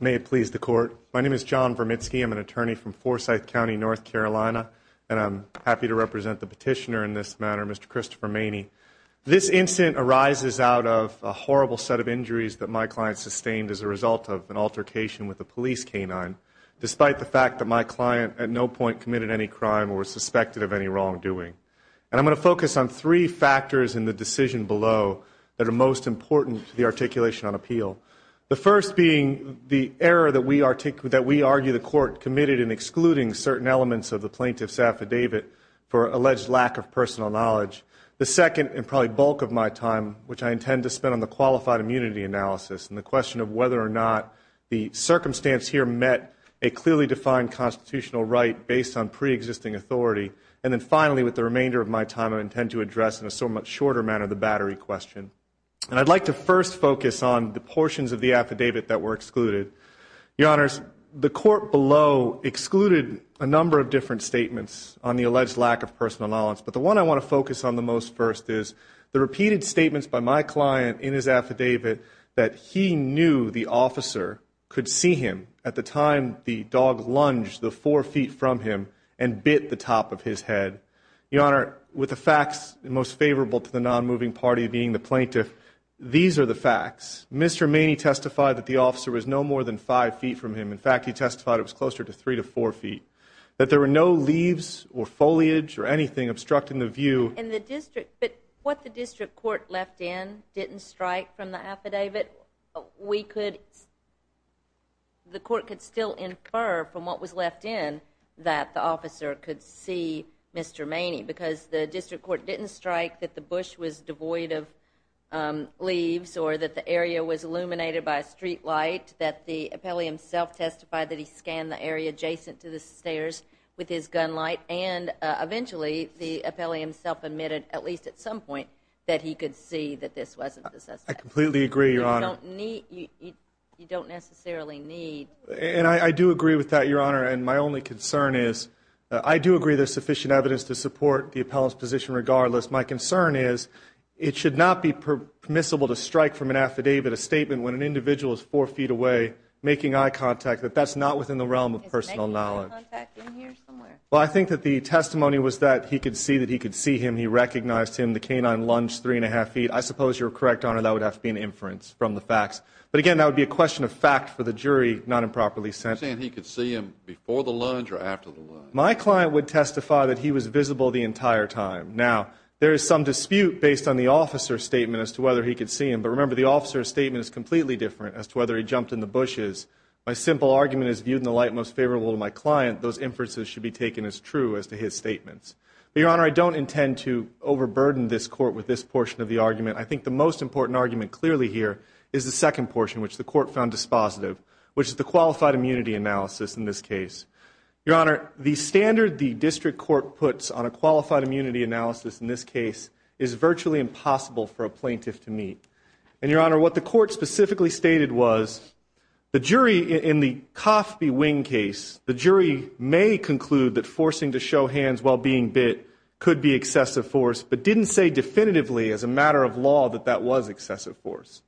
May it please the court. My name is John Vermitsky. I'm an attorney from Forsyth County, North Carolina, and I'm happy to represent the petitioner in this matter, Mr. Christopher Maney. This incident arises out of a horrible set of injuries that my client sustained as a result of an altercation with a police canine. Despite the fact that my client at no point committed any crime or was charged with any crime, I'm happy to represent the petitioner in this matter, Mr. Christopher Maney. I'm going to focus on three factors in the decision below that are most important to the articulation on appeal. The first being the error that we argue the court committed in excluding certain elements of the plaintiff's affidavit for alleged lack of personal knowledge. The second, and probably bulk of my time, which I intend to spend on the qualified immunity analysis and the question of whether or not the circumstance here met a clearly defined constitutional right based on preexisting authority. And then finally, with the remainder of my time, I intend to address in a somewhat shorter manner the battery question. I'd like to first focus on the portions of the affidavit that were excluded. Your Honors, the court below excluded a number of different statements on the alleged lack of personal knowledge, but the one I want to focus on the most first is the repeated statements by my client in his affidavit that he knew the officer could see him at the time the dog lunged the four feet from him and bit the top of his head. Your Honor, with the facts most favorable to the non-moving party being the plaintiff, these are the facts. Mr. Maney testified that the officer was no more than five feet from him. In fact, he testified it was closer to three to four feet. That there were no leaves or foliage or anything obstructing the view. And the district, but what the district court left in didn't strike from the affidavit. We could, the court could still infer from what was left in that the officer could see Mr. Maney because the district court didn't strike that the bush was devoid of leaves, or that the area was illuminated by a streetlight, that the appellee himself testified that he scanned the area adjacent to the stairs with his gun light, and eventually the appellee himself admitted, at least at some point, that he could see that this wasn't the suspect. I completely agree, Your Honor. You don't need, you don't necessarily need. And I do agree with that, Your Honor, and my only concern is I do agree there's sufficient evidence to support the appellant's position regardless. My concern is it should not be permissible to strike from an affidavit a statement when an individual is four feet away making eye contact, that that's not within the realm of personal knowledge. Well, I think that the testimony was that he could see that he could see him. He recognized him. The canine lunged three and a half feet. I suppose you're correct, Your Honor, that would have to be an inference from the facts. But again, that would be a question of fact for the jury, not improperly sent. You're saying he could see him before the lunge or after the lunge? My client would testify that he was visible the entire time. Now, there is some dispute based on the officer's statement as to whether he could see him. But remember, the officer's statement is completely different as to whether he jumped in the bushes. My simple argument is viewed in the light most favorable to my client. Those inferences should be taken as true as to his statements. But, Your Honor, I don't intend to overburden this Court with this portion of the argument. I think the most important argument clearly here is the second portion, which the Court found dispositive, which is the qualified immunity analysis in this case. Your Honor, the standard the district court puts on a qualified immunity analysis in this case is virtually impossible for a plaintiff to meet. And, Your Honor, what the Court specifically stated was the jury in the Coffey wing case, the jury may conclude that forcing to show hands while being bit could be excessive force, but didn't say definitively as a matter of law that that was excessive force.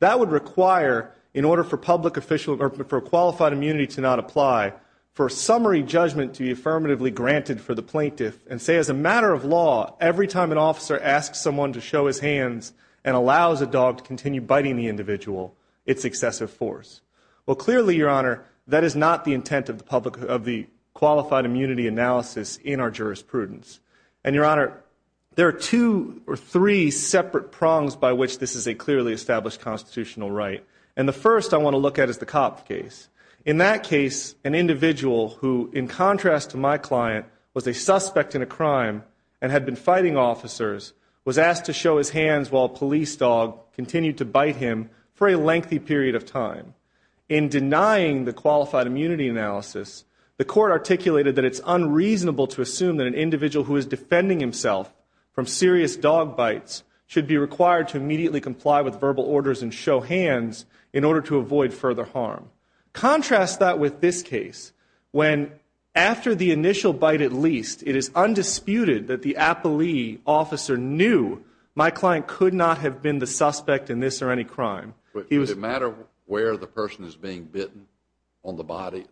That would require, in order for qualified immunity to not apply, for a summary judgment to be affirmatively granted for the plaintiff and say as a matter of law, every time an officer asks someone to show his hands and allows a dog to continue biting the individual, it's excessive force. Well, clearly, Your Honor, that is not the intent of the qualified immunity analysis in our jurisprudence. And, Your Honor, there are two or three separate prongs by which this is a clearly established constitutional right. And the first I want to look at is the Coffey case. In that case, an individual who, in contrast to my client, was a suspect in a crime and had been fighting officers, was asked to show his hands while a police dog continued to bite him for a lengthy period of time. In denying the qualified immunity analysis, the Court articulated that it's unreasonable to assume that an individual who is defending himself from serious dog bites should be required to immediately comply with verbal orders and show hands in order to avoid further harm. Contrast that with this case when, after the initial bite at least, it is undisputed that the appellee officer knew my client could not have been the suspect in this or any crime. But does it matter where the person is being bitten? On the body?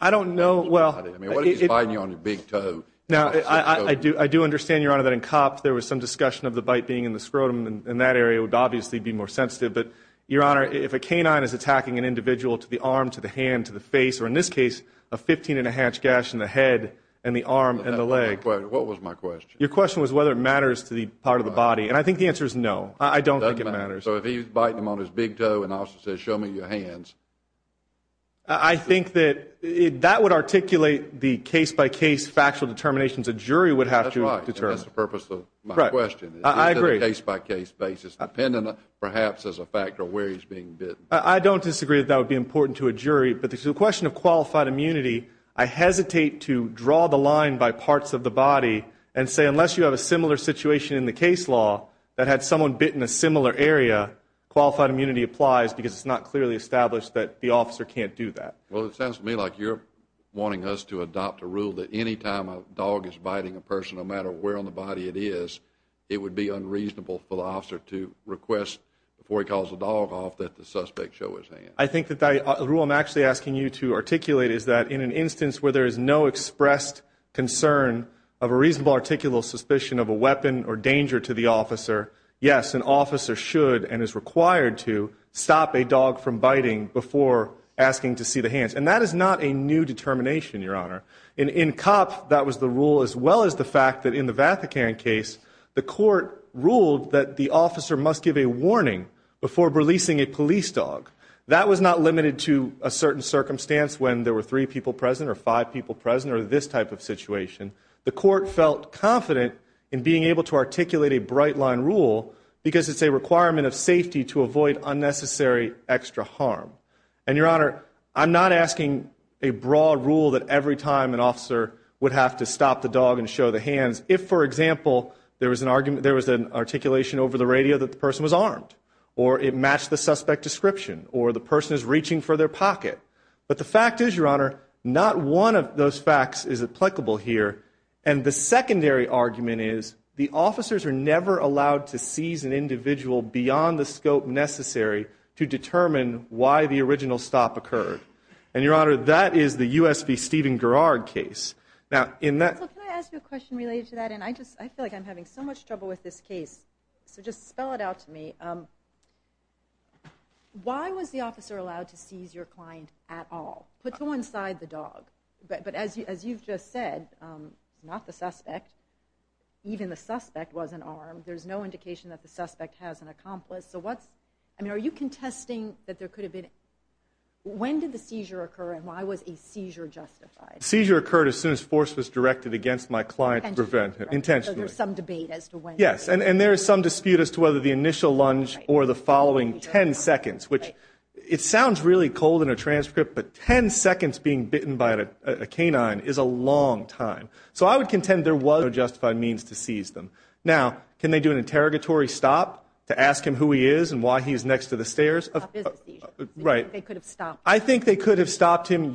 I don't know. I mean, what if he's biting you on your big toe? Now, I do understand, Your Honor, that in COPS there was some discussion of the bite being in the scrotum. In that area, it would obviously be more sensitive. But, Your Honor, if a canine is attacking an individual to the arm, to the hand, to the face, or in this case, a 15-and-a-hatch gash in the head and the arm and the leg. What was my question? Your question was whether it matters to the part of the body. And I think the answer is no. I don't think it matters. So if he's biting him on his big toe and the officer says, show me your hands. I think that that would articulate the case-by-case factual determinations a jury would have to determine. That's right. That's the purpose of my question. I agree. Case-by-case basis, depending perhaps as a factor where he's being bitten. I don't disagree that that would be important to a jury. But to the question of qualified immunity, I hesitate to draw the line by parts of the body and say unless you have a similar situation in the case law that had someone bitten a similar area, qualified immunity applies because it's not clearly established that the officer can't do that. Well, it sounds to me like you're wanting us to adopt a rule that any time a dog is biting a person, no matter where on the body it is, it would be unreasonable for the officer to request before he calls the dog off that the suspect show his hands. I think that the rule I'm actually asking you to articulate is that in an instance where there is no expressed concern of a reasonable articulal suspicion of a weapon or danger to the officer, yes, an officer should and is required to stop a dog from biting before asking to see the hands. And that is not a new determination, Your Honor. In COPS, that was the rule as well as the fact that in the Vatican case, the court ruled that the officer must give a warning before releasing a police dog. That was not limited to a certain circumstance when there were three people present or five people present or this type of situation. The court felt confident in being able to articulate a bright-line rule because it's a requirement of safety to avoid unnecessary extra harm. And, Your Honor, I'm not asking a broad rule that every time an officer would have to stop the dog and show the hands if, for example, there was an articulation over the radio that the person was armed or it matched the suspect description or the person is reaching for their pocket. But the fact is, Your Honor, not one of those facts is applicable here. And the secondary argument is the officers are never allowed to seize an individual beyond the scope necessary to determine why the original stop occurred. And, Your Honor, that is the U.S. v. Stephen Garrard case. Can I ask you a question related to that? And I feel like I'm having so much trouble with this case, so just spell it out to me. Why was the officer allowed to seize your client at all? Put someone inside the dog. But as you've just said, it's not the suspect. Even the suspect wasn't armed. There's no indication that the suspect has an accomplice. So what's, I mean, are you contesting that there could have been, when did the seizure occur and why was a seizure justified? The seizure occurred as soon as force was directed against my client intentionally. So there's some debate as to when. Yes, and there is some dispute as to whether the initial lunge or the following 10 seconds, which it sounds really cold in a transcript, but 10 seconds being bitten by a canine is a long time. So I would contend there was no justified means to seize them. Now, can they do an interrogatory stop to ask him who he is and why he's next to the stairs? A business seizure. Right. They could have stopped him. I think they could have stopped him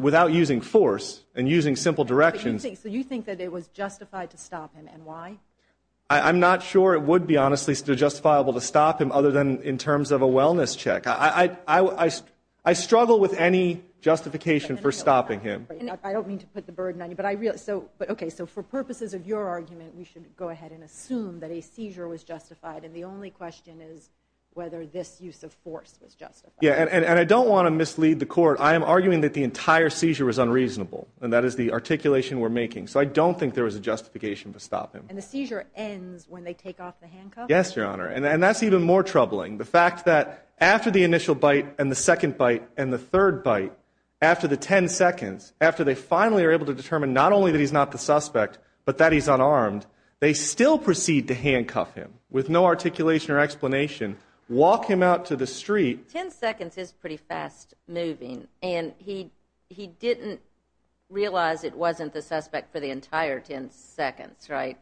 without using force and using simple directions. So you think that it was justified to stop him and why? I'm not sure it would be, honestly, justifiable to stop him other than in terms of a wellness check. I struggle with any justification for stopping him. I don't mean to put the burden on you, but okay, so for purposes of your argument, we should go ahead and assume that a seizure was justified and the only question is whether this use of force was justified. Yeah, and I don't want to mislead the court. I am arguing that the entire seizure was unreasonable, and that is the articulation we're making. So I don't think there was a justification to stop him. And the seizure ends when they take off the handcuffs? Yes, Your Honor, and that's even more troubling, the fact that after the initial bite and the second bite and the third bite, after the 10 seconds, after they finally are able to determine not only that he's not the suspect but that he's unarmed, they still proceed to handcuff him with no articulation or explanation, walk him out to the street. 10 seconds is pretty fast-moving, and he didn't realize it wasn't the suspect for the entire 10 seconds, right?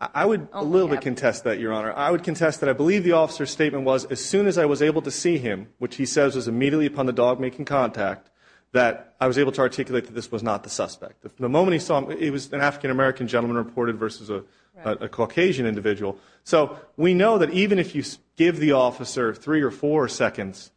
I would a little bit contest that, Your Honor. I would contest that. I believe the officer's statement was, as soon as I was able to see him, which he says was immediately upon the dog making contact, that I was able to articulate that this was not the suspect. The moment he saw him, it was an African-American gentleman reported versus a Caucasian individual. So we know that even if you give the officer three or four seconds,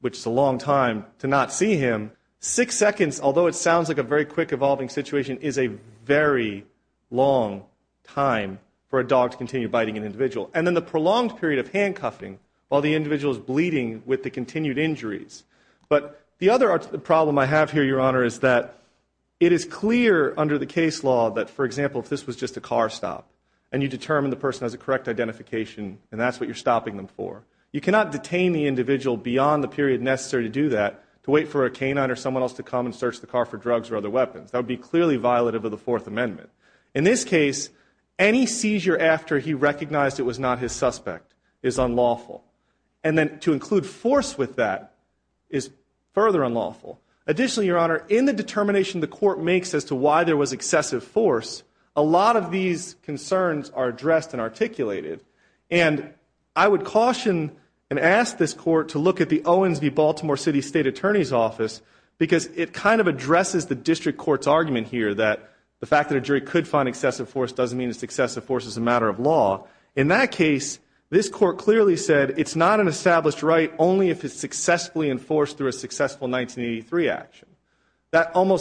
which is a long time, to not see him, six seconds, although it sounds like a very quick-evolving situation, is a very long time for a dog to continue biting an individual. And then the prolonged period of handcuffing while the individual is bleeding with the continued injuries. But the other problem I have here, Your Honor, is that it is clear under the case law that, for example, if this was just a car stop and you determine the person has a correct identification and that's what you're stopping them for, you cannot detain the individual beyond the period necessary to do that, to wait for a canine or someone else to come and search the car for drugs or other weapons. That would be clearly violative of the Fourth Amendment. In this case, any seizure after he recognized it was not his suspect is unlawful. And then to include force with that is further unlawful. Additionally, Your Honor, in the determination the court makes as to why there was excessive force, a lot of these concerns are addressed and articulated. And I would caution and ask this court to look at the Owens v. Baltimore City State Attorney's Office because it kind of addresses the district court's argument here that the fact that a jury could find excessive force doesn't mean it's excessive force as a matter of law. In that case, this court clearly said it's not an established right only if it's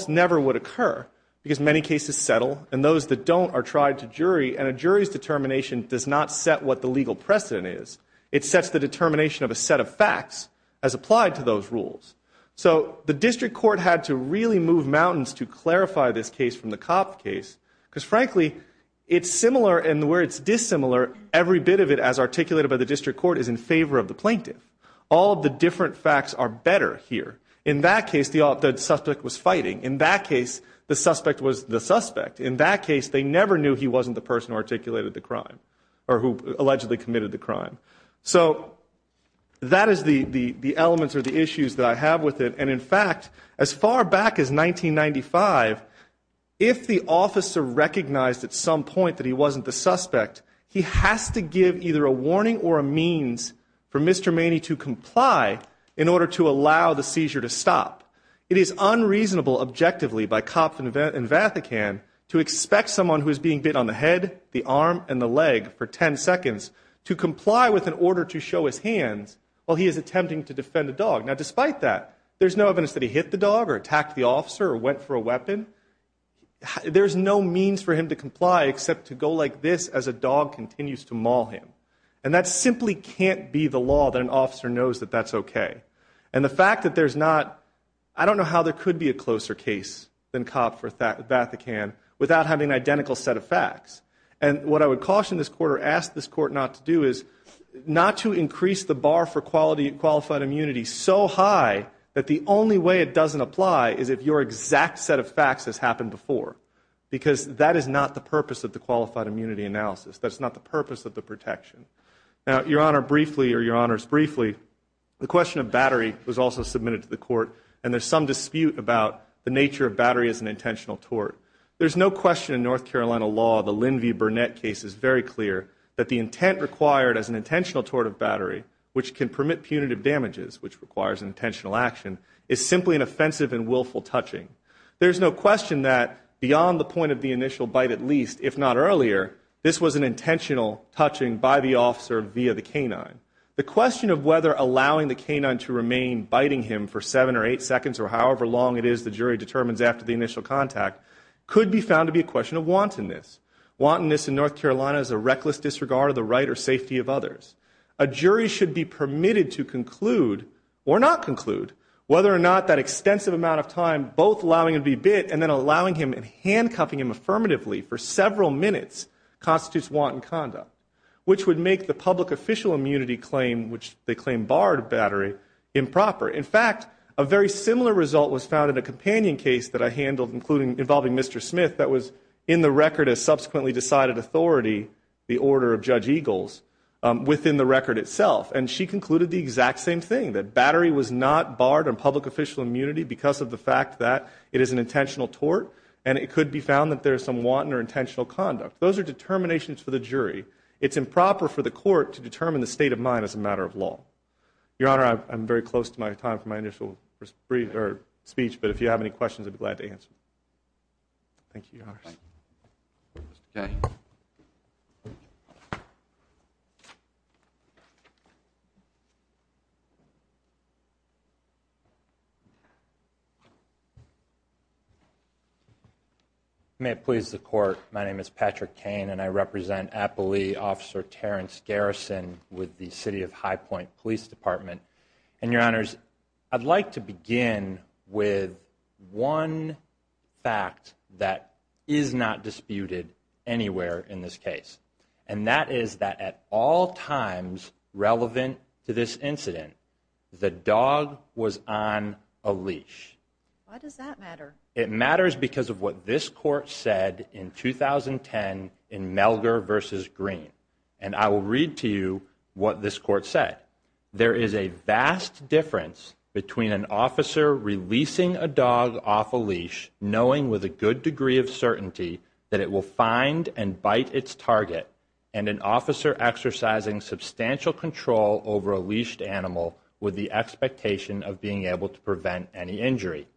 never would occur because many cases settle and those that don't are tried to jury and a jury's determination does not set what the legal precedent is. It sets the determination of a set of facts as applied to those rules. So the district court had to really move mountains to clarify this case from the Copp case because, frankly, it's similar and where it's dissimilar, every bit of it as articulated by the district court is in favor of the plaintiff. All of the different facts are better here. In that case, the suspect was fighting. In that case, the suspect was the suspect. In that case, they never knew he wasn't the person who articulated the crime or who allegedly committed the crime. So that is the elements or the issues that I have with it. And, in fact, as far back as 1995, if the officer recognized at some point that he wasn't the suspect, he has to give either a warning or a means for Mr. to stop. It is unreasonable, objectively, by Copp and Vatican to expect someone who is being bit on the head, the arm, and the leg for 10 seconds to comply with an order to show his hands while he is attempting to defend a dog. Now, despite that, there's no evidence that he hit the dog or attacked the officer or went for a weapon. There's no means for him to comply except to go like this as a dog continues to maul him. And that simply can't be the law that an officer knows that that's okay. And the fact that there's not, I don't know how there could be a closer case than Copp for Vatican without having an identical set of facts. And what I would caution this court or ask this court not to do is not to increase the bar for qualified immunity so high that the only way it doesn't apply is if your exact set of facts has happened before because that is not the purpose of the qualified immunity analysis. That's not the purpose of the protection. Now, Your Honor, briefly, or Your Honors, briefly, the question of battery was also submitted to the court, and there's some dispute about the nature of battery as an intentional tort. There's no question in North Carolina law, the Linvey-Burnett case is very clear, that the intent required as an intentional tort of battery, which can permit punitive damages, which requires an intentional action, is simply an offensive and willful touching. There's no question that beyond the point of the initial bite at least, if not The question of whether allowing the canine to remain biting him for seven or eight seconds or however long it is the jury determines after the initial contact could be found to be a question of wantonness. Wantonness in North Carolina is a reckless disregard of the right or safety of others. A jury should be permitted to conclude or not conclude whether or not that extensive amount of time, both allowing him to be bit and then allowing him and handcuffing him affirmatively for several minutes constitutes wanton conduct, which would make the public official immunity claim, which they claim barred battery, improper. In fact, a very similar result was found in a companion case that I handled involving Mr. Smith that was in the record as subsequently decided authority, the order of Judge Eagles, within the record itself. And she concluded the exact same thing, that battery was not barred on public official immunity because of the fact that it is an intentional tort and it could be found that there is some wanton or intentional conduct. Those are determinations for the jury. It's improper for the court to determine the state of mind as a matter of law. Your Honor, I'm very close to my time for my initial speech, but if you have any questions, I'd be glad to answer. Thank you, Your Honors. Mr. Kaye. May it please the Court. My name is Patrick Kane, and I represent Apolli Officer Terrence Garrison with the City of High Point Police Department. And, Your Honors, I'd like to begin with one fact that is not disputed anywhere in this case, and that is that at all times relevant to this incident, the dog was on a leash. Why does that matter? It matters because of what this court said in 2010 in Melgar v. Green. And I will read to you what this court said. There is a vast difference between an officer releasing a dog off a leash, knowing with a good degree of certainty that it will find and bite its target, and an officer exercising substantial control over a leashed animal with the expectation of being able to prevent any injury.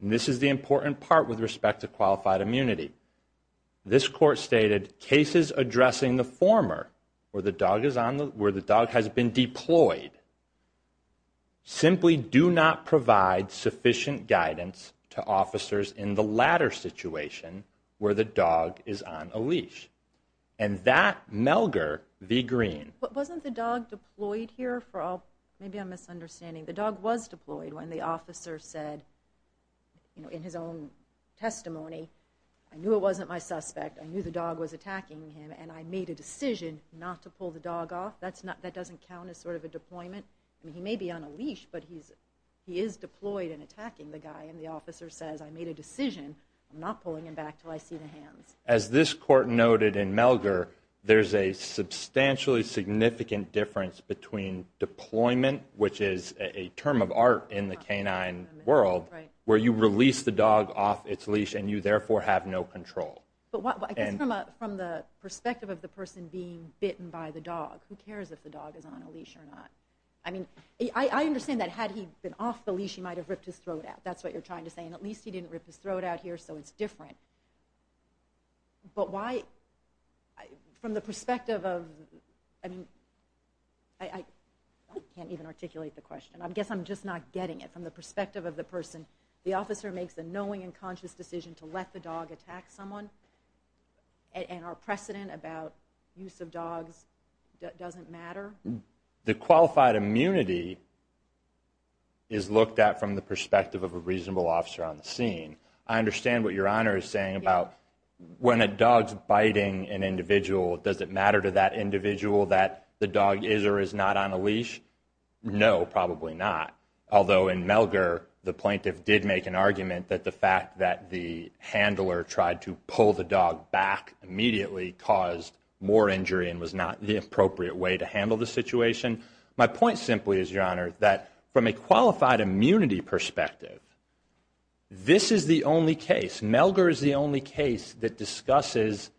And this is the important part with respect to qualified immunity. This court stated, cases addressing the former, where the dog has been deployed, simply do not provide sufficient guidance to officers in the latter situation where the dog is on a leash. And that, Melgar v. Green. Wasn't the dog deployed here for all? Maybe I'm misunderstanding. The dog was deployed when the officer said in his own testimony, I knew it wasn't my suspect, I knew the dog was attacking him, and I made a decision not to pull the dog off. That doesn't count as sort of a deployment. I mean, he may be on a leash, but he is deployed and attacking the guy, and the officer says, I made a decision. I'm not pulling him back until I see the hands. As this court noted in Melgar, there's a substantially significant difference between deployment, which is a term of art in the canine world, where you release the dog off its leash and you therefore have no control. But I guess from the perspective of the person being bitten by the dog, who cares if the dog is on a leash or not? I mean, I understand that had he been off the leash, he might have ripped his throat out. That's what you're trying to say. And at least he didn't rip his throat out here, so it's different. But why, from the perspective of, I mean, I can't even articulate the question. I guess I'm just not getting it. From the perspective of the person, the officer makes a knowing and conscious decision to let the dog attack someone, and our precedent about use of dogs doesn't matter? The qualified immunity is looked at from the perspective of a reasonable officer on the scene. I understand what Your Honor is saying about when a dog is biting an individual, does it matter to that individual that the dog is or is not on a leash? No, probably not, although in Melgar, the plaintiff did make an argument that the fact that the handler tried to pull the dog back immediately caused more injury and was not the appropriate way to handle the situation. My point simply is, Your Honor, that from a qualified immunity perspective, this is the only case, Melgar is the only case that discusses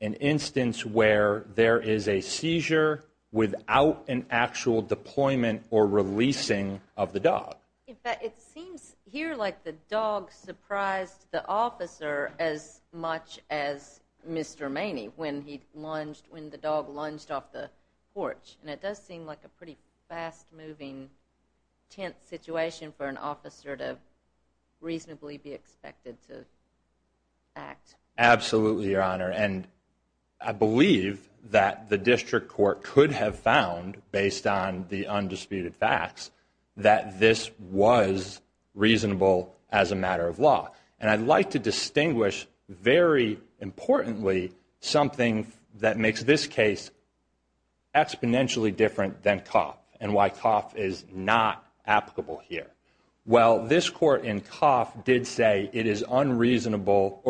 an instance where there is a seizure without an actual deployment or releasing of the dog. In fact, it seems here like the dog surprised the officer as much as Mr. Maney when the dog lunged off the porch, and it does seem like a pretty fast-moving, tense situation for an officer to reasonably be expected to act. Absolutely, Your Honor, and I believe that the district court could have found, based on the undisputed facts, that this was reasonable as a matter of law. And I'd like to distinguish very importantly something that makes this case exponentially different than Koff and why Koff is not applicable here. Well, this court in Koff did not say it was unreasonable.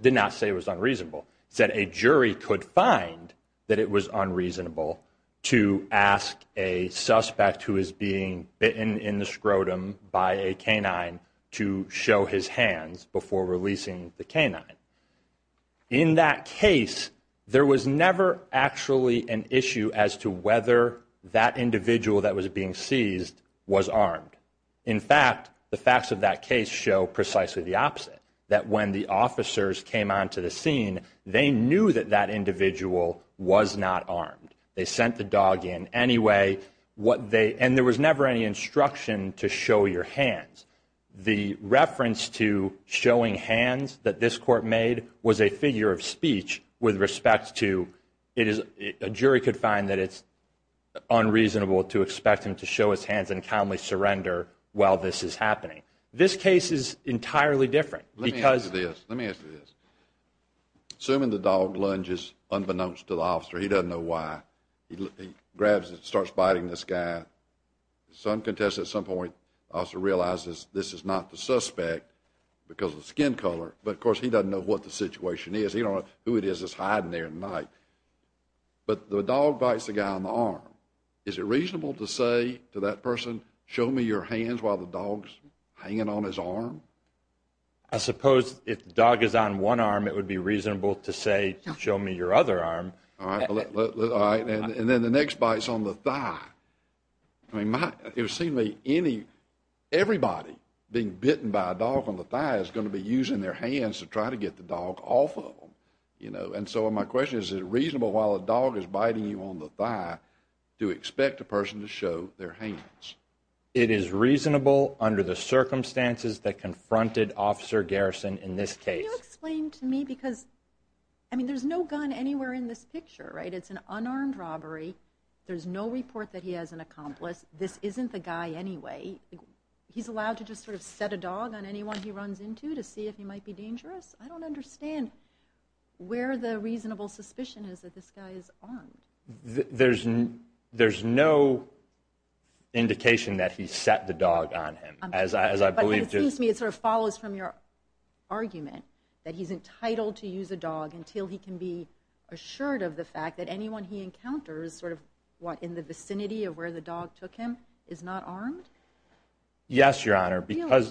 It said a jury could find that it was unreasonable to ask a suspect who is being bitten in the scrotum by a canine to show his hands before releasing the canine. In that case, there was never actually an issue as to whether that individual that was being seized was armed. In fact, the facts of that case show precisely the opposite, that when the officers came onto the scene, they knew that that individual was not armed. They sent the dog in anyway, and there was never any instruction to show your hands. The reference to showing hands that this court made was a figure of speech with respect to a jury could find that it's unreasonable to expect him to show his hands and calmly surrender while this is happening. This case is entirely different because Let me ask you this. Assuming the dog lunges unbeknownst to the officer, he doesn't know why, he grabs it and starts biting this guy. Some contestant at some point also realizes this is not the suspect because of skin color, but of course he doesn't know what the situation is. He doesn't know who it is that's hiding there at night. But the dog bites the guy on the arm. Is it reasonable to say to that person, show me your hands while the dog's hanging on his arm? I suppose if the dog is on one arm, it would be reasonable to say, show me your other arm. And then the next bite's on the thigh. It would seem to me everybody being bitten by a dog on the thigh is going to be using their hands to try to get the dog off of them. And so my question is, is it reasonable while a dog is biting you on the thigh to expect a person to show their hands? It is reasonable under the circumstances that confronted Officer Garrison in this case. Can you explain to me, because there's no gun anywhere in this picture, right? It's an unarmed robbery. There's no report that he has an accomplice. This isn't the guy anyway. He's allowed to just sort of set a dog on anyone he runs into to see if he might be dangerous? I don't understand where the reasonable suspicion is that this guy is armed. There's no indication that he set the dog on him. But it seems to me it sort of follows from your argument that he's entitled to use a dog until he can be assured of the fact that anyone he encounters in the vicinity of where the dog took him is not armed? Yes, Your Honor, because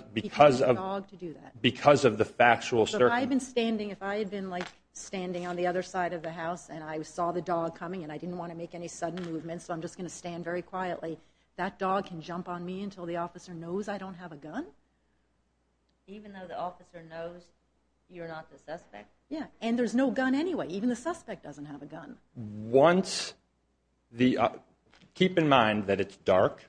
of the factual certainty. So if I had been standing on the other side of the house and I saw the dog coming and I didn't want to make any sudden movements, so I'm just going to stand very quietly, that dog can jump on me until the officer knows I don't have a gun? Even though the officer knows you're not the suspect? Yes, and there's no gun anyway. Even the suspect doesn't have a gun. Keep in mind that it's dark.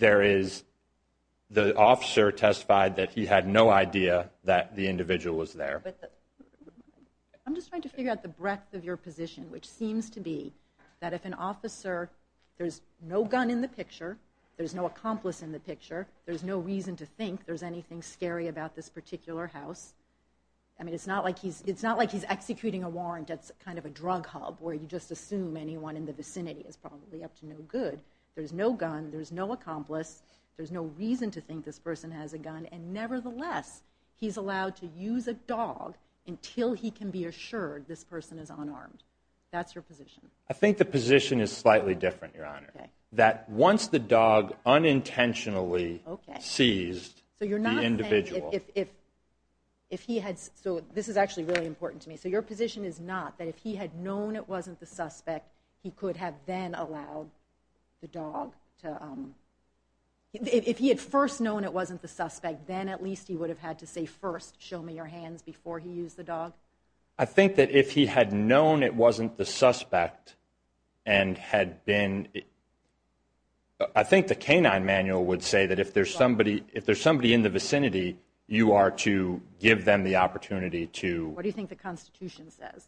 The officer testified that he had no idea that the individual was there. I'm just trying to figure out the breadth of your position, which seems to be that if an officer, there's no gun in the picture, there's no accomplice in the picture, there's no reason to think there's anything scary about this particular house. I mean, it's not like he's executing a warrant at kind of a drug hub where you just assume anyone in the vicinity is probably up to no good. There's no gun, there's no accomplice, there's no reason to think this person has a gun, and nevertheless he's allowed to use a dog until he can be assured this person is unarmed. That's your position. I think the position is slightly different, Your Honor, that once the dog unintentionally seized the individual. So you're not saying if he had, so this is actually really important to me, so your position is not that if he had known it wasn't the suspect, he could have then allowed the dog to, if he had first known it wasn't the suspect, then at least he would have had to say first, show me your hands before he used the dog? I think that if he had known it wasn't the suspect and had been, I think the canine manual would say that if there's somebody in the vicinity, you are to give them the opportunity to. What do you think the Constitution says?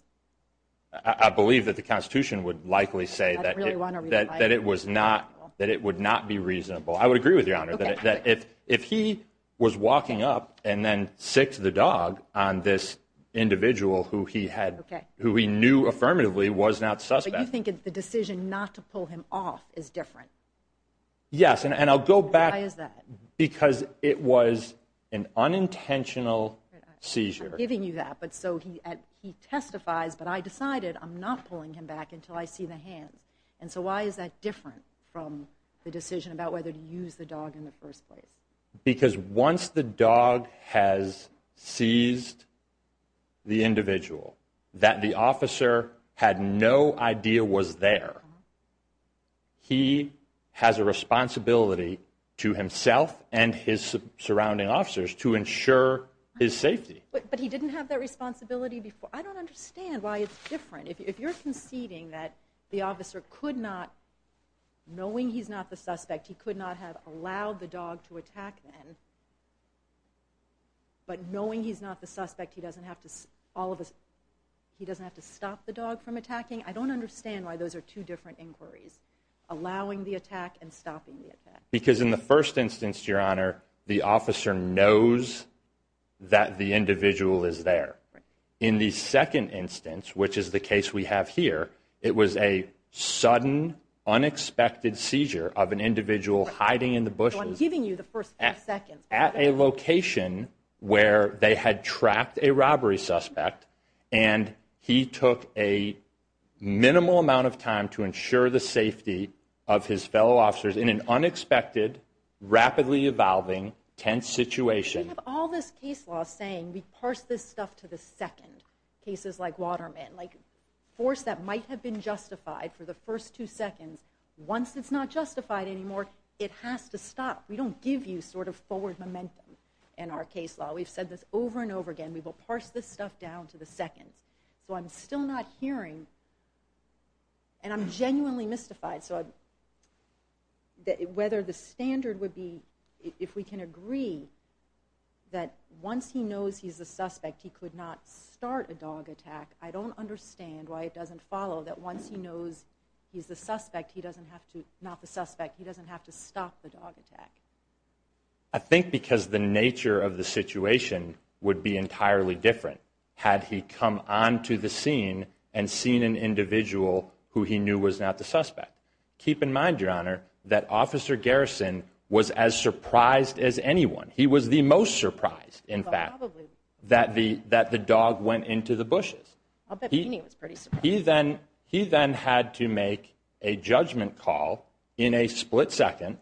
I believe that the Constitution would likely say that it was not, I would agree with you, Your Honor, that if he was walking up and then sicced the dog on this individual who he knew affirmatively was not the suspect. But you think the decision not to pull him off is different? Yes, and I'll go back. Why is that? Because it was an unintentional seizure. I'm giving you that, but so he testifies, but I decided I'm not pulling him back until I see the hands, and so why is that different from the decision about whether to use the dog in the first place? Because once the dog has seized the individual that the officer had no idea was there, he has a responsibility to himself and his surrounding officers to ensure his safety. But he didn't have that responsibility before. I don't understand why it's different. If you're conceding that the officer could not, knowing he's not the suspect, he could not have allowed the dog to attack then, but knowing he's not the suspect, he doesn't have to stop the dog from attacking, I don't understand why those are two different inquiries, allowing the attack and stopping the attack. Because in the first instance, Your Honor, the officer knows that the individual is there. In the second instance, which is the case we have here, it was a sudden, unexpected seizure of an individual hiding in the bushes at a location where they had tracked a robbery suspect, and he took a minimal amount of time to ensure the safety of his fellow officers in an unexpected, rapidly evolving, tense situation. We have all this case law saying we parse this stuff to the second, cases like Waterman, like force that might have been justified for the first two seconds. Once it's not justified anymore, it has to stop. We don't give you sort of forward momentum in our case law. We've said this over and over again. We will parse this stuff down to the second. So I'm still not hearing, and I'm genuinely mystified, whether the standard would be if we can agree that once he knows he's the suspect, he could not start a dog attack. I don't understand why it doesn't follow that once he knows he's the suspect, he doesn't have to stop the dog attack. I think because the nature of the situation would be entirely different had he come onto the scene and seen an individual who he knew was not the suspect. Keep in mind, Your Honor, that Officer Garrison was as surprised as anyone. He was the most surprised, in fact, that the dog went into the bushes. He then had to make a judgment call in a split second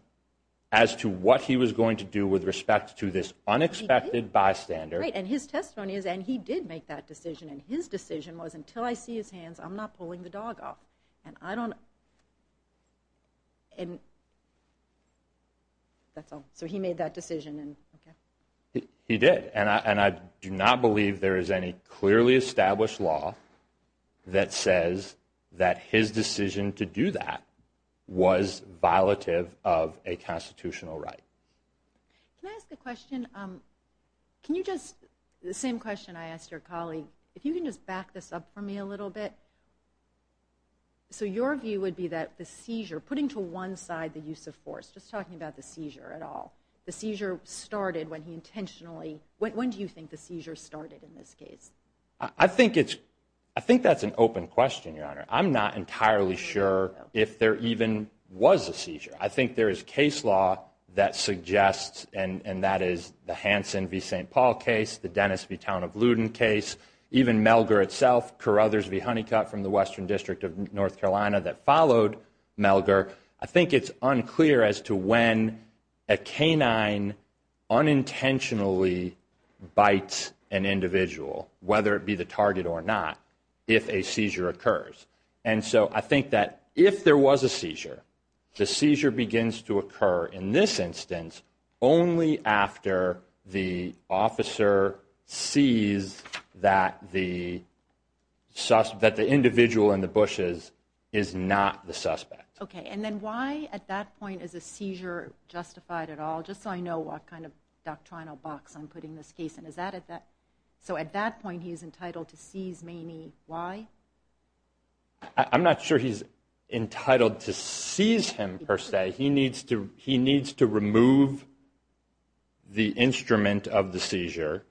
as to what he was going to do with respect to this unexpected bystander. And his testimony is, and he did make that decision, and his decision was, until I see his hands, I'm not pulling the dog off. And I don't... That's all. So he made that decision. He did, and I do not believe there is any clearly established law that says that his decision to do that was violative of a constitutional right. Can I ask a question? Can you just, the same question I asked your colleague, if you can just back this up for me a little bit. So your view would be that the seizure, putting to one side the use of force, just talking about the seizure at all, the seizure started when he intentionally, when do you think the seizure started in this case? I think that's an open question, Your Honor. I'm not entirely sure if there even was a seizure. I think there is case law that suggests, and that is the Hanson v. St. Paul case, the Dennis v. Town of Luden case, even Melger itself, Carruthers v. Honeycutt from the Western District of North Carolina that followed Melger. I think it's unclear as to when a canine unintentionally bites an individual, whether it be the target or not, if a seizure occurs. And so I think that if there was a seizure, the seizure begins to occur in this instance only after the officer sees that the individual in the bushes is not the suspect. Okay, and then why at that point is a seizure justified at all? Just so I know what kind of doctrinal box I'm putting this case in. So at that point he's entitled to seize Maney, why? I'm not sure he's entitled to seize him, per se. He needs to remove the instrument of the seizure,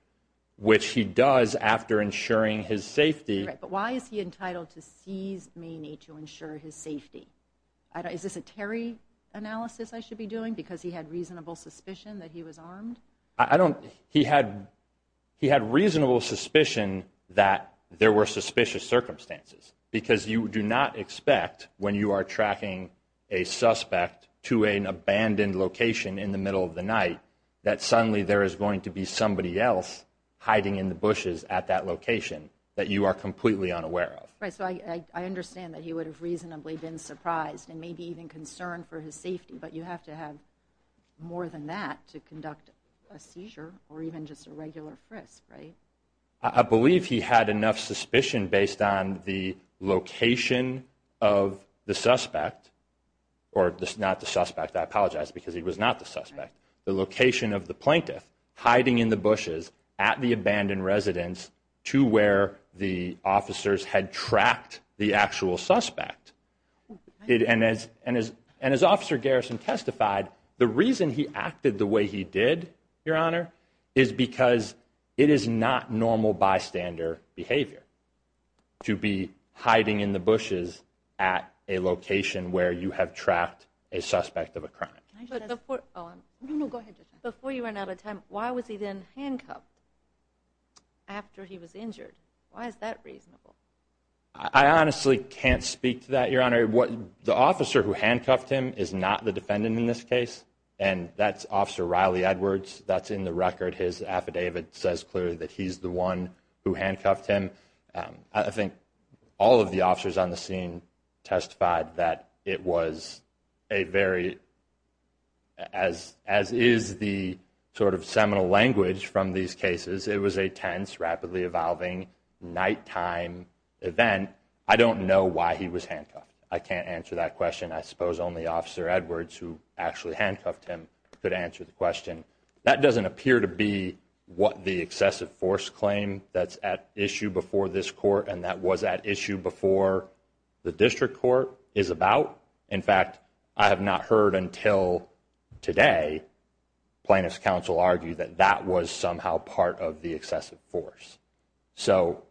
which he does after ensuring his safety. But why is he entitled to seize Maney to ensure his safety? Is this a Terry analysis I should be doing because he had reasonable suspicion that he was armed? He had reasonable suspicion that there were suspicious circumstances because you do not expect when you are tracking a suspect to an abandoned location in the middle of the night that suddenly there is going to be somebody else hiding in the bushes at that location that you are completely unaware of. So I understand that he would have reasonably been surprised and maybe even concerned for his safety, but you have to have more than that to conduct a seizure or even just a regular frisk, right? I believe he had enough suspicion based on the location of the suspect, or not the suspect, I apologize because he was not the suspect, the location of the plaintiff hiding in the bushes at the abandoned residence to where the officers had tracked the actual suspect. And as Officer Garrison testified, the reason he acted the way he did, Your Honor, is because it is not normal bystander behavior to be hiding in the bushes at a location where you have tracked a suspect of a crime. Before you run out of time, why was he then handcuffed after he was injured? Why is that reasonable? I honestly can't speak to that, Your Honor. The officer who handcuffed him is not the defendant in this case, and that's Officer Riley Edwards. That's in the record. His affidavit says clearly that he's the one who handcuffed him. I think all of the officers on the scene testified that it was a very, as is the sort of seminal language from these cases, it was a tense, rapidly evolving nighttime event. I don't know why he was handcuffed. I can't answer that question. I suppose only Officer Edwards, who actually handcuffed him, could answer the question. That doesn't appear to be what the excessive force claim that's at issue before this court and that was at issue before the district court is about. In fact, I have not heard until today plaintiff's counsel argue that that was somehow part of the excessive force. So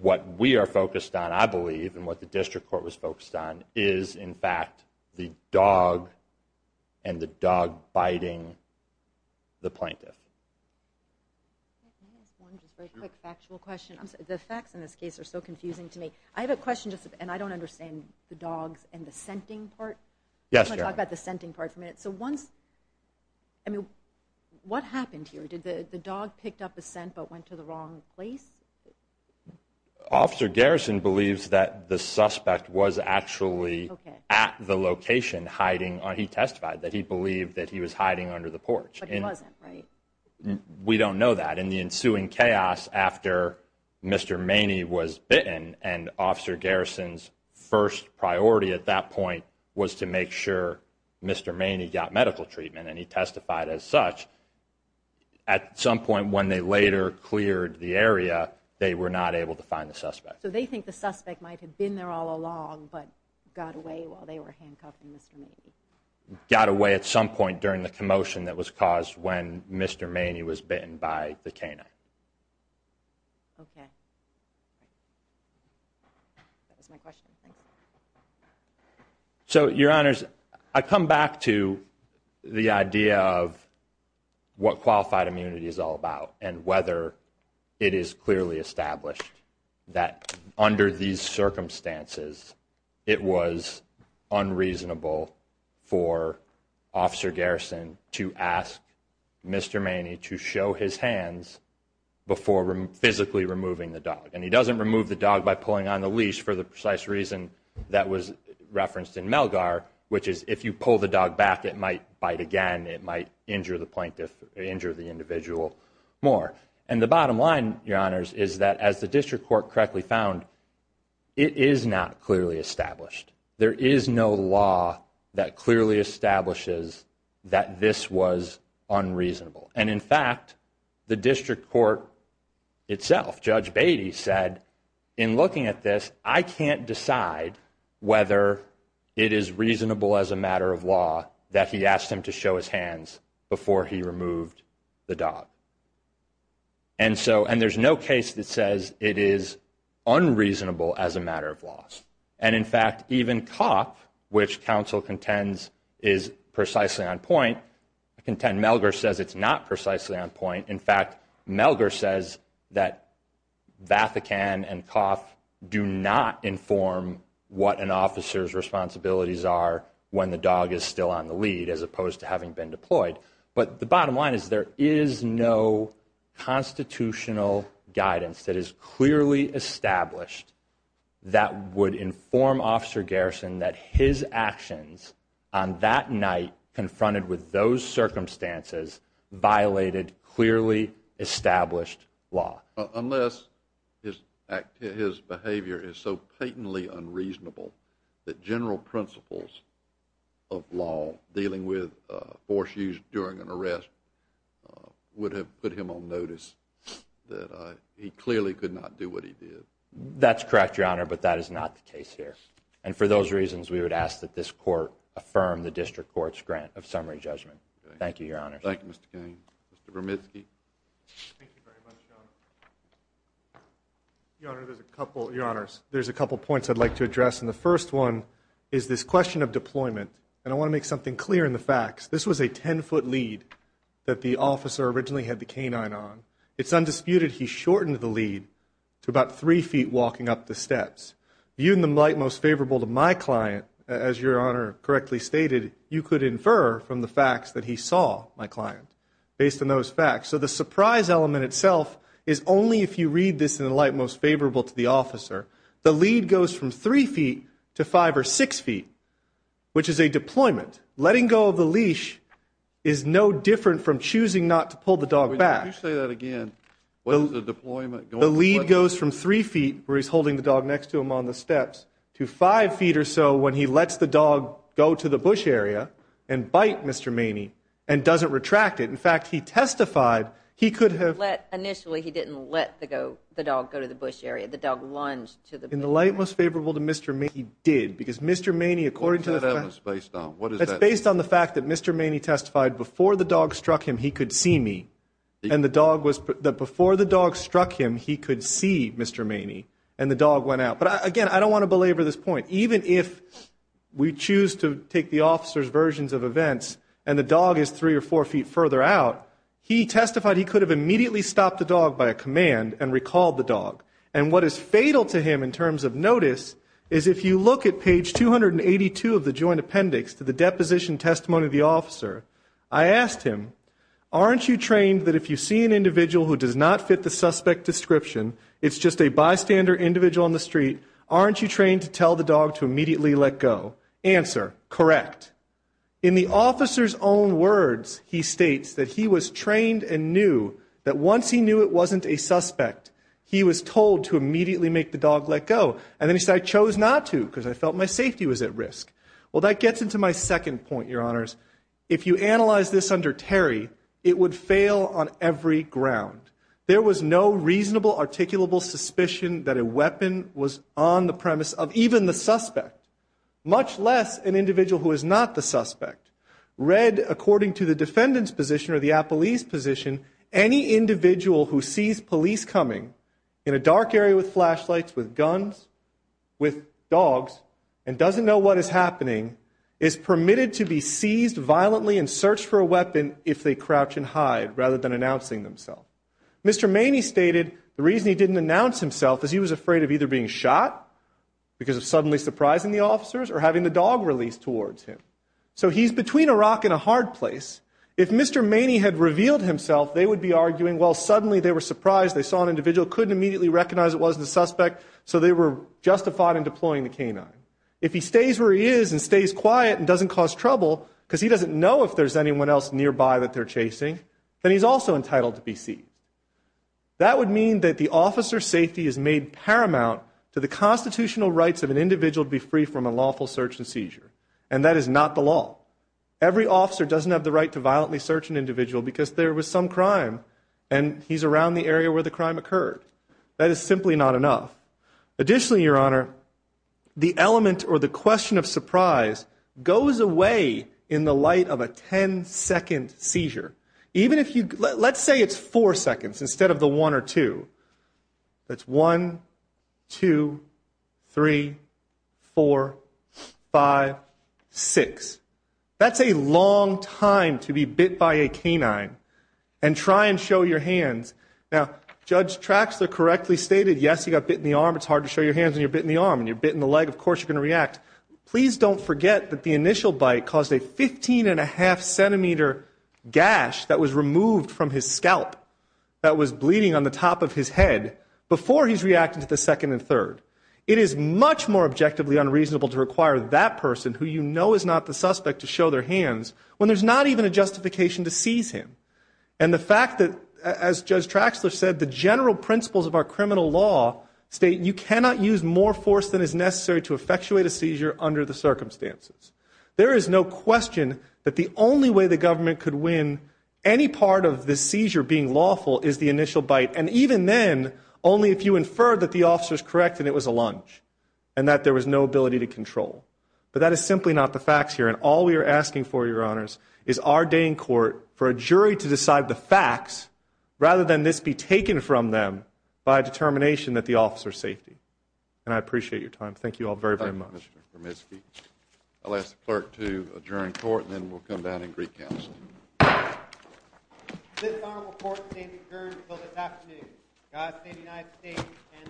what we are focused on, I believe, and what the district court was focused on, is in fact the dog and the dog biting the plaintiff. Can I ask one just very quick factual question? The facts in this case are so confusing to me. I have a question, and I don't understand the dogs and the scenting part. Yes, Your Honor. I want to talk about the scenting part for a minute. So what happened here? Did the dog pick up the scent but went to the wrong place? Officer Garrison believes that the suspect was actually at the location hiding. He testified that he believed that he was hiding under the porch. But he wasn't, right? We don't know that. In the ensuing chaos after Mr. Maney was bitten and Officer Garrison's first priority at that point was to make sure Mr. Maney got medical treatment, and he testified as such. At some point when they later cleared the area, they were not able to find the suspect. So they think the suspect might have been there all along but got away while they were handcuffing Mr. Maney. Got away at some point during the commotion that was caused when Mr. Maney was bitten by the canine. Okay. That was my question. So, Your Honors, I come back to the idea of what qualified immunity is all about and whether it is clearly established that under these circumstances it was unreasonable for Officer Garrison to ask Mr. Maney to show his hands before physically removing the dog. And he doesn't remove the dog by pulling on the leash for the precise reason that was referenced in Melgar, which is if you pull the dog back, it might bite again. It might injure the individual more. And the bottom line, Your Honors, is that as the District Court correctly found, it is not clearly established. There is no law that clearly establishes that this was unreasonable. And in fact, the District Court itself, Judge Beatty said, in looking at this, I can't decide whether it is reasonable as a matter of law that he asked him to show his hands before he removed the dog. And there's no case that says it is unreasonable as a matter of law. And in fact, even COFF, which counsel contends is precisely on point, I contend Melgar says it's not precisely on point. In fact, Melgar says that Vafikan and COFF do not inform what an officer's responsibilities are when the dog is still on the lead as opposed to having been deployed. But the bottom line is there is no constitutional guidance that is clearly established that would inform Officer Garrison that his actions on that night confronted with those circumstances violated clearly established law. Unless his behavior is so patently unreasonable that general principles of law dealing with force used during an arrest would have put him on notice that he clearly could not do what he did. That's correct, Your Honor, but that is not the case here. And for those reasons, we would ask that this court affirm the District Court's grant of summary judgment. Thank you, Your Honors. Thank you, Mr. Cain. Mr. Bromitzky. Thank you very much, Your Honor. Your Honor, there's a couple points I'd like to address. And the first one is this question of deployment. And I want to make something clear in the facts. This was a 10-foot lead that the officer originally had the canine on. It's undisputed he shortened the lead to about three feet walking up the steps. Viewed in the light most favorable to my client, as Your Honor correctly stated, you could infer from the facts that he saw my client based on those facts so the surprise element itself is only if you read this in the light most favorable to the officer. The lead goes from three feet to five or six feet, which is a deployment. Letting go of the leash is no different from choosing not to pull the dog back. Would you say that again? The lead goes from three feet, where he's holding the dog next to him on the steps, to five feet or so when he lets the dog go to the bush area and bite Mr. Maney and doesn't retract it. In fact, he testified he could have. Initially he didn't let the dog go to the bush area. The dog lunged to the bush area. In the light most favorable to Mr. Maney, he did. Because Mr. Maney, according to the facts. What is that evidence based on? It's based on the fact that Mr. Maney testified before the dog struck him he could see me. And the dog was, before the dog struck him he could see Mr. Maney. And the dog went out. But, again, I don't want to belabor this point. But even if we choose to take the officer's versions of events and the dog is three or four feet further out, he testified he could have immediately stopped the dog by a command and recalled the dog. And what is fatal to him in terms of notice is if you look at page 282 of the joint appendix to the deposition testimony of the officer, I asked him, aren't you trained that if you see an individual who does not fit the suspect description, it's just a bystander individual in the street, aren't you trained to tell the dog to immediately let go? Answer, correct. In the officer's own words, he states that he was trained and knew that once he knew it wasn't a suspect, he was told to immediately make the dog let go. And then he said, I chose not to because I felt my safety was at risk. Well, that gets into my second point, Your Honors. If you analyze this under Terry, it would fail on every ground. There was no reasonable articulable suspicion that a weapon was on the premise of even the suspect, much less an individual who is not the suspect. Read according to the defendant's position or the police position, any individual who sees police coming in a dark area with flashlights, with guns, with dogs, and doesn't know what is happening is permitted to be seized violently and searched for a weapon if they crouch and hide rather than announcing themselves. Mr. Maney stated the reason he didn't announce himself is he was afraid of either being shot because of suddenly surprising the officers or having the dog released towards him. So he's between a rock and a hard place. If Mr. Maney had revealed himself, they would be arguing, well, suddenly they were surprised, they saw an individual, couldn't immediately recognize it wasn't a suspect, so they were justified in deploying the canine. If he stays where he is and stays quiet and doesn't cause trouble because he doesn't know if there's anyone else nearby that they're chasing, then he's also entitled to be seized. That would mean that the officer's safety is made paramount to the constitutional rights of an individual to be free from a lawful search and seizure, and that is not the law. Every officer doesn't have the right to violently search an individual because there was some crime and he's around the area where the crime occurred. That is simply not enough. Additionally, Your Honor, the element or the question of surprise goes away in the light of a 10-second seizure. Let's say it's four seconds instead of the one or two. That's one, two, three, four, five, six. That's a long time to be bit by a canine. And try and show your hands. Now, Judge Traxler correctly stated, yes, you got bit in the arm. It's hard to show your hands when you're bit in the arm. When you're bit in the leg, of course you're going to react. Please don't forget that the initial bite caused a 15-and-a-half-centimeter gash that was removed from his scalp that was bleeding on the top of his head before he's reacted to the second and third. It is much more objectively unreasonable to require that person, who you know is not the suspect, to show their hands when there's not even a justification to seize him. And the fact that, as Judge Traxler said, the general principles of our criminal law state you cannot use more force than is necessary to effectuate a seizure under the circumstances. There is no question that the only way the government could win any part of the seizure being lawful is the initial bite, and even then, only if you infer that the officer is correct and it was a lunge and that there was no ability to control. But that is simply not the facts here, and all we are asking for, Your Honors, is our day in court for a jury to decide the facts rather than this be taken from them by a determination that the officer's safety. And I appreciate your time. Thank you all very, very much. Thank you, Mr. Bermesky. I'll ask the clerk to adjourn court, and then we'll come down and recount. This honorable court stands adjourned until this afternoon. God save the United States and this honorable court.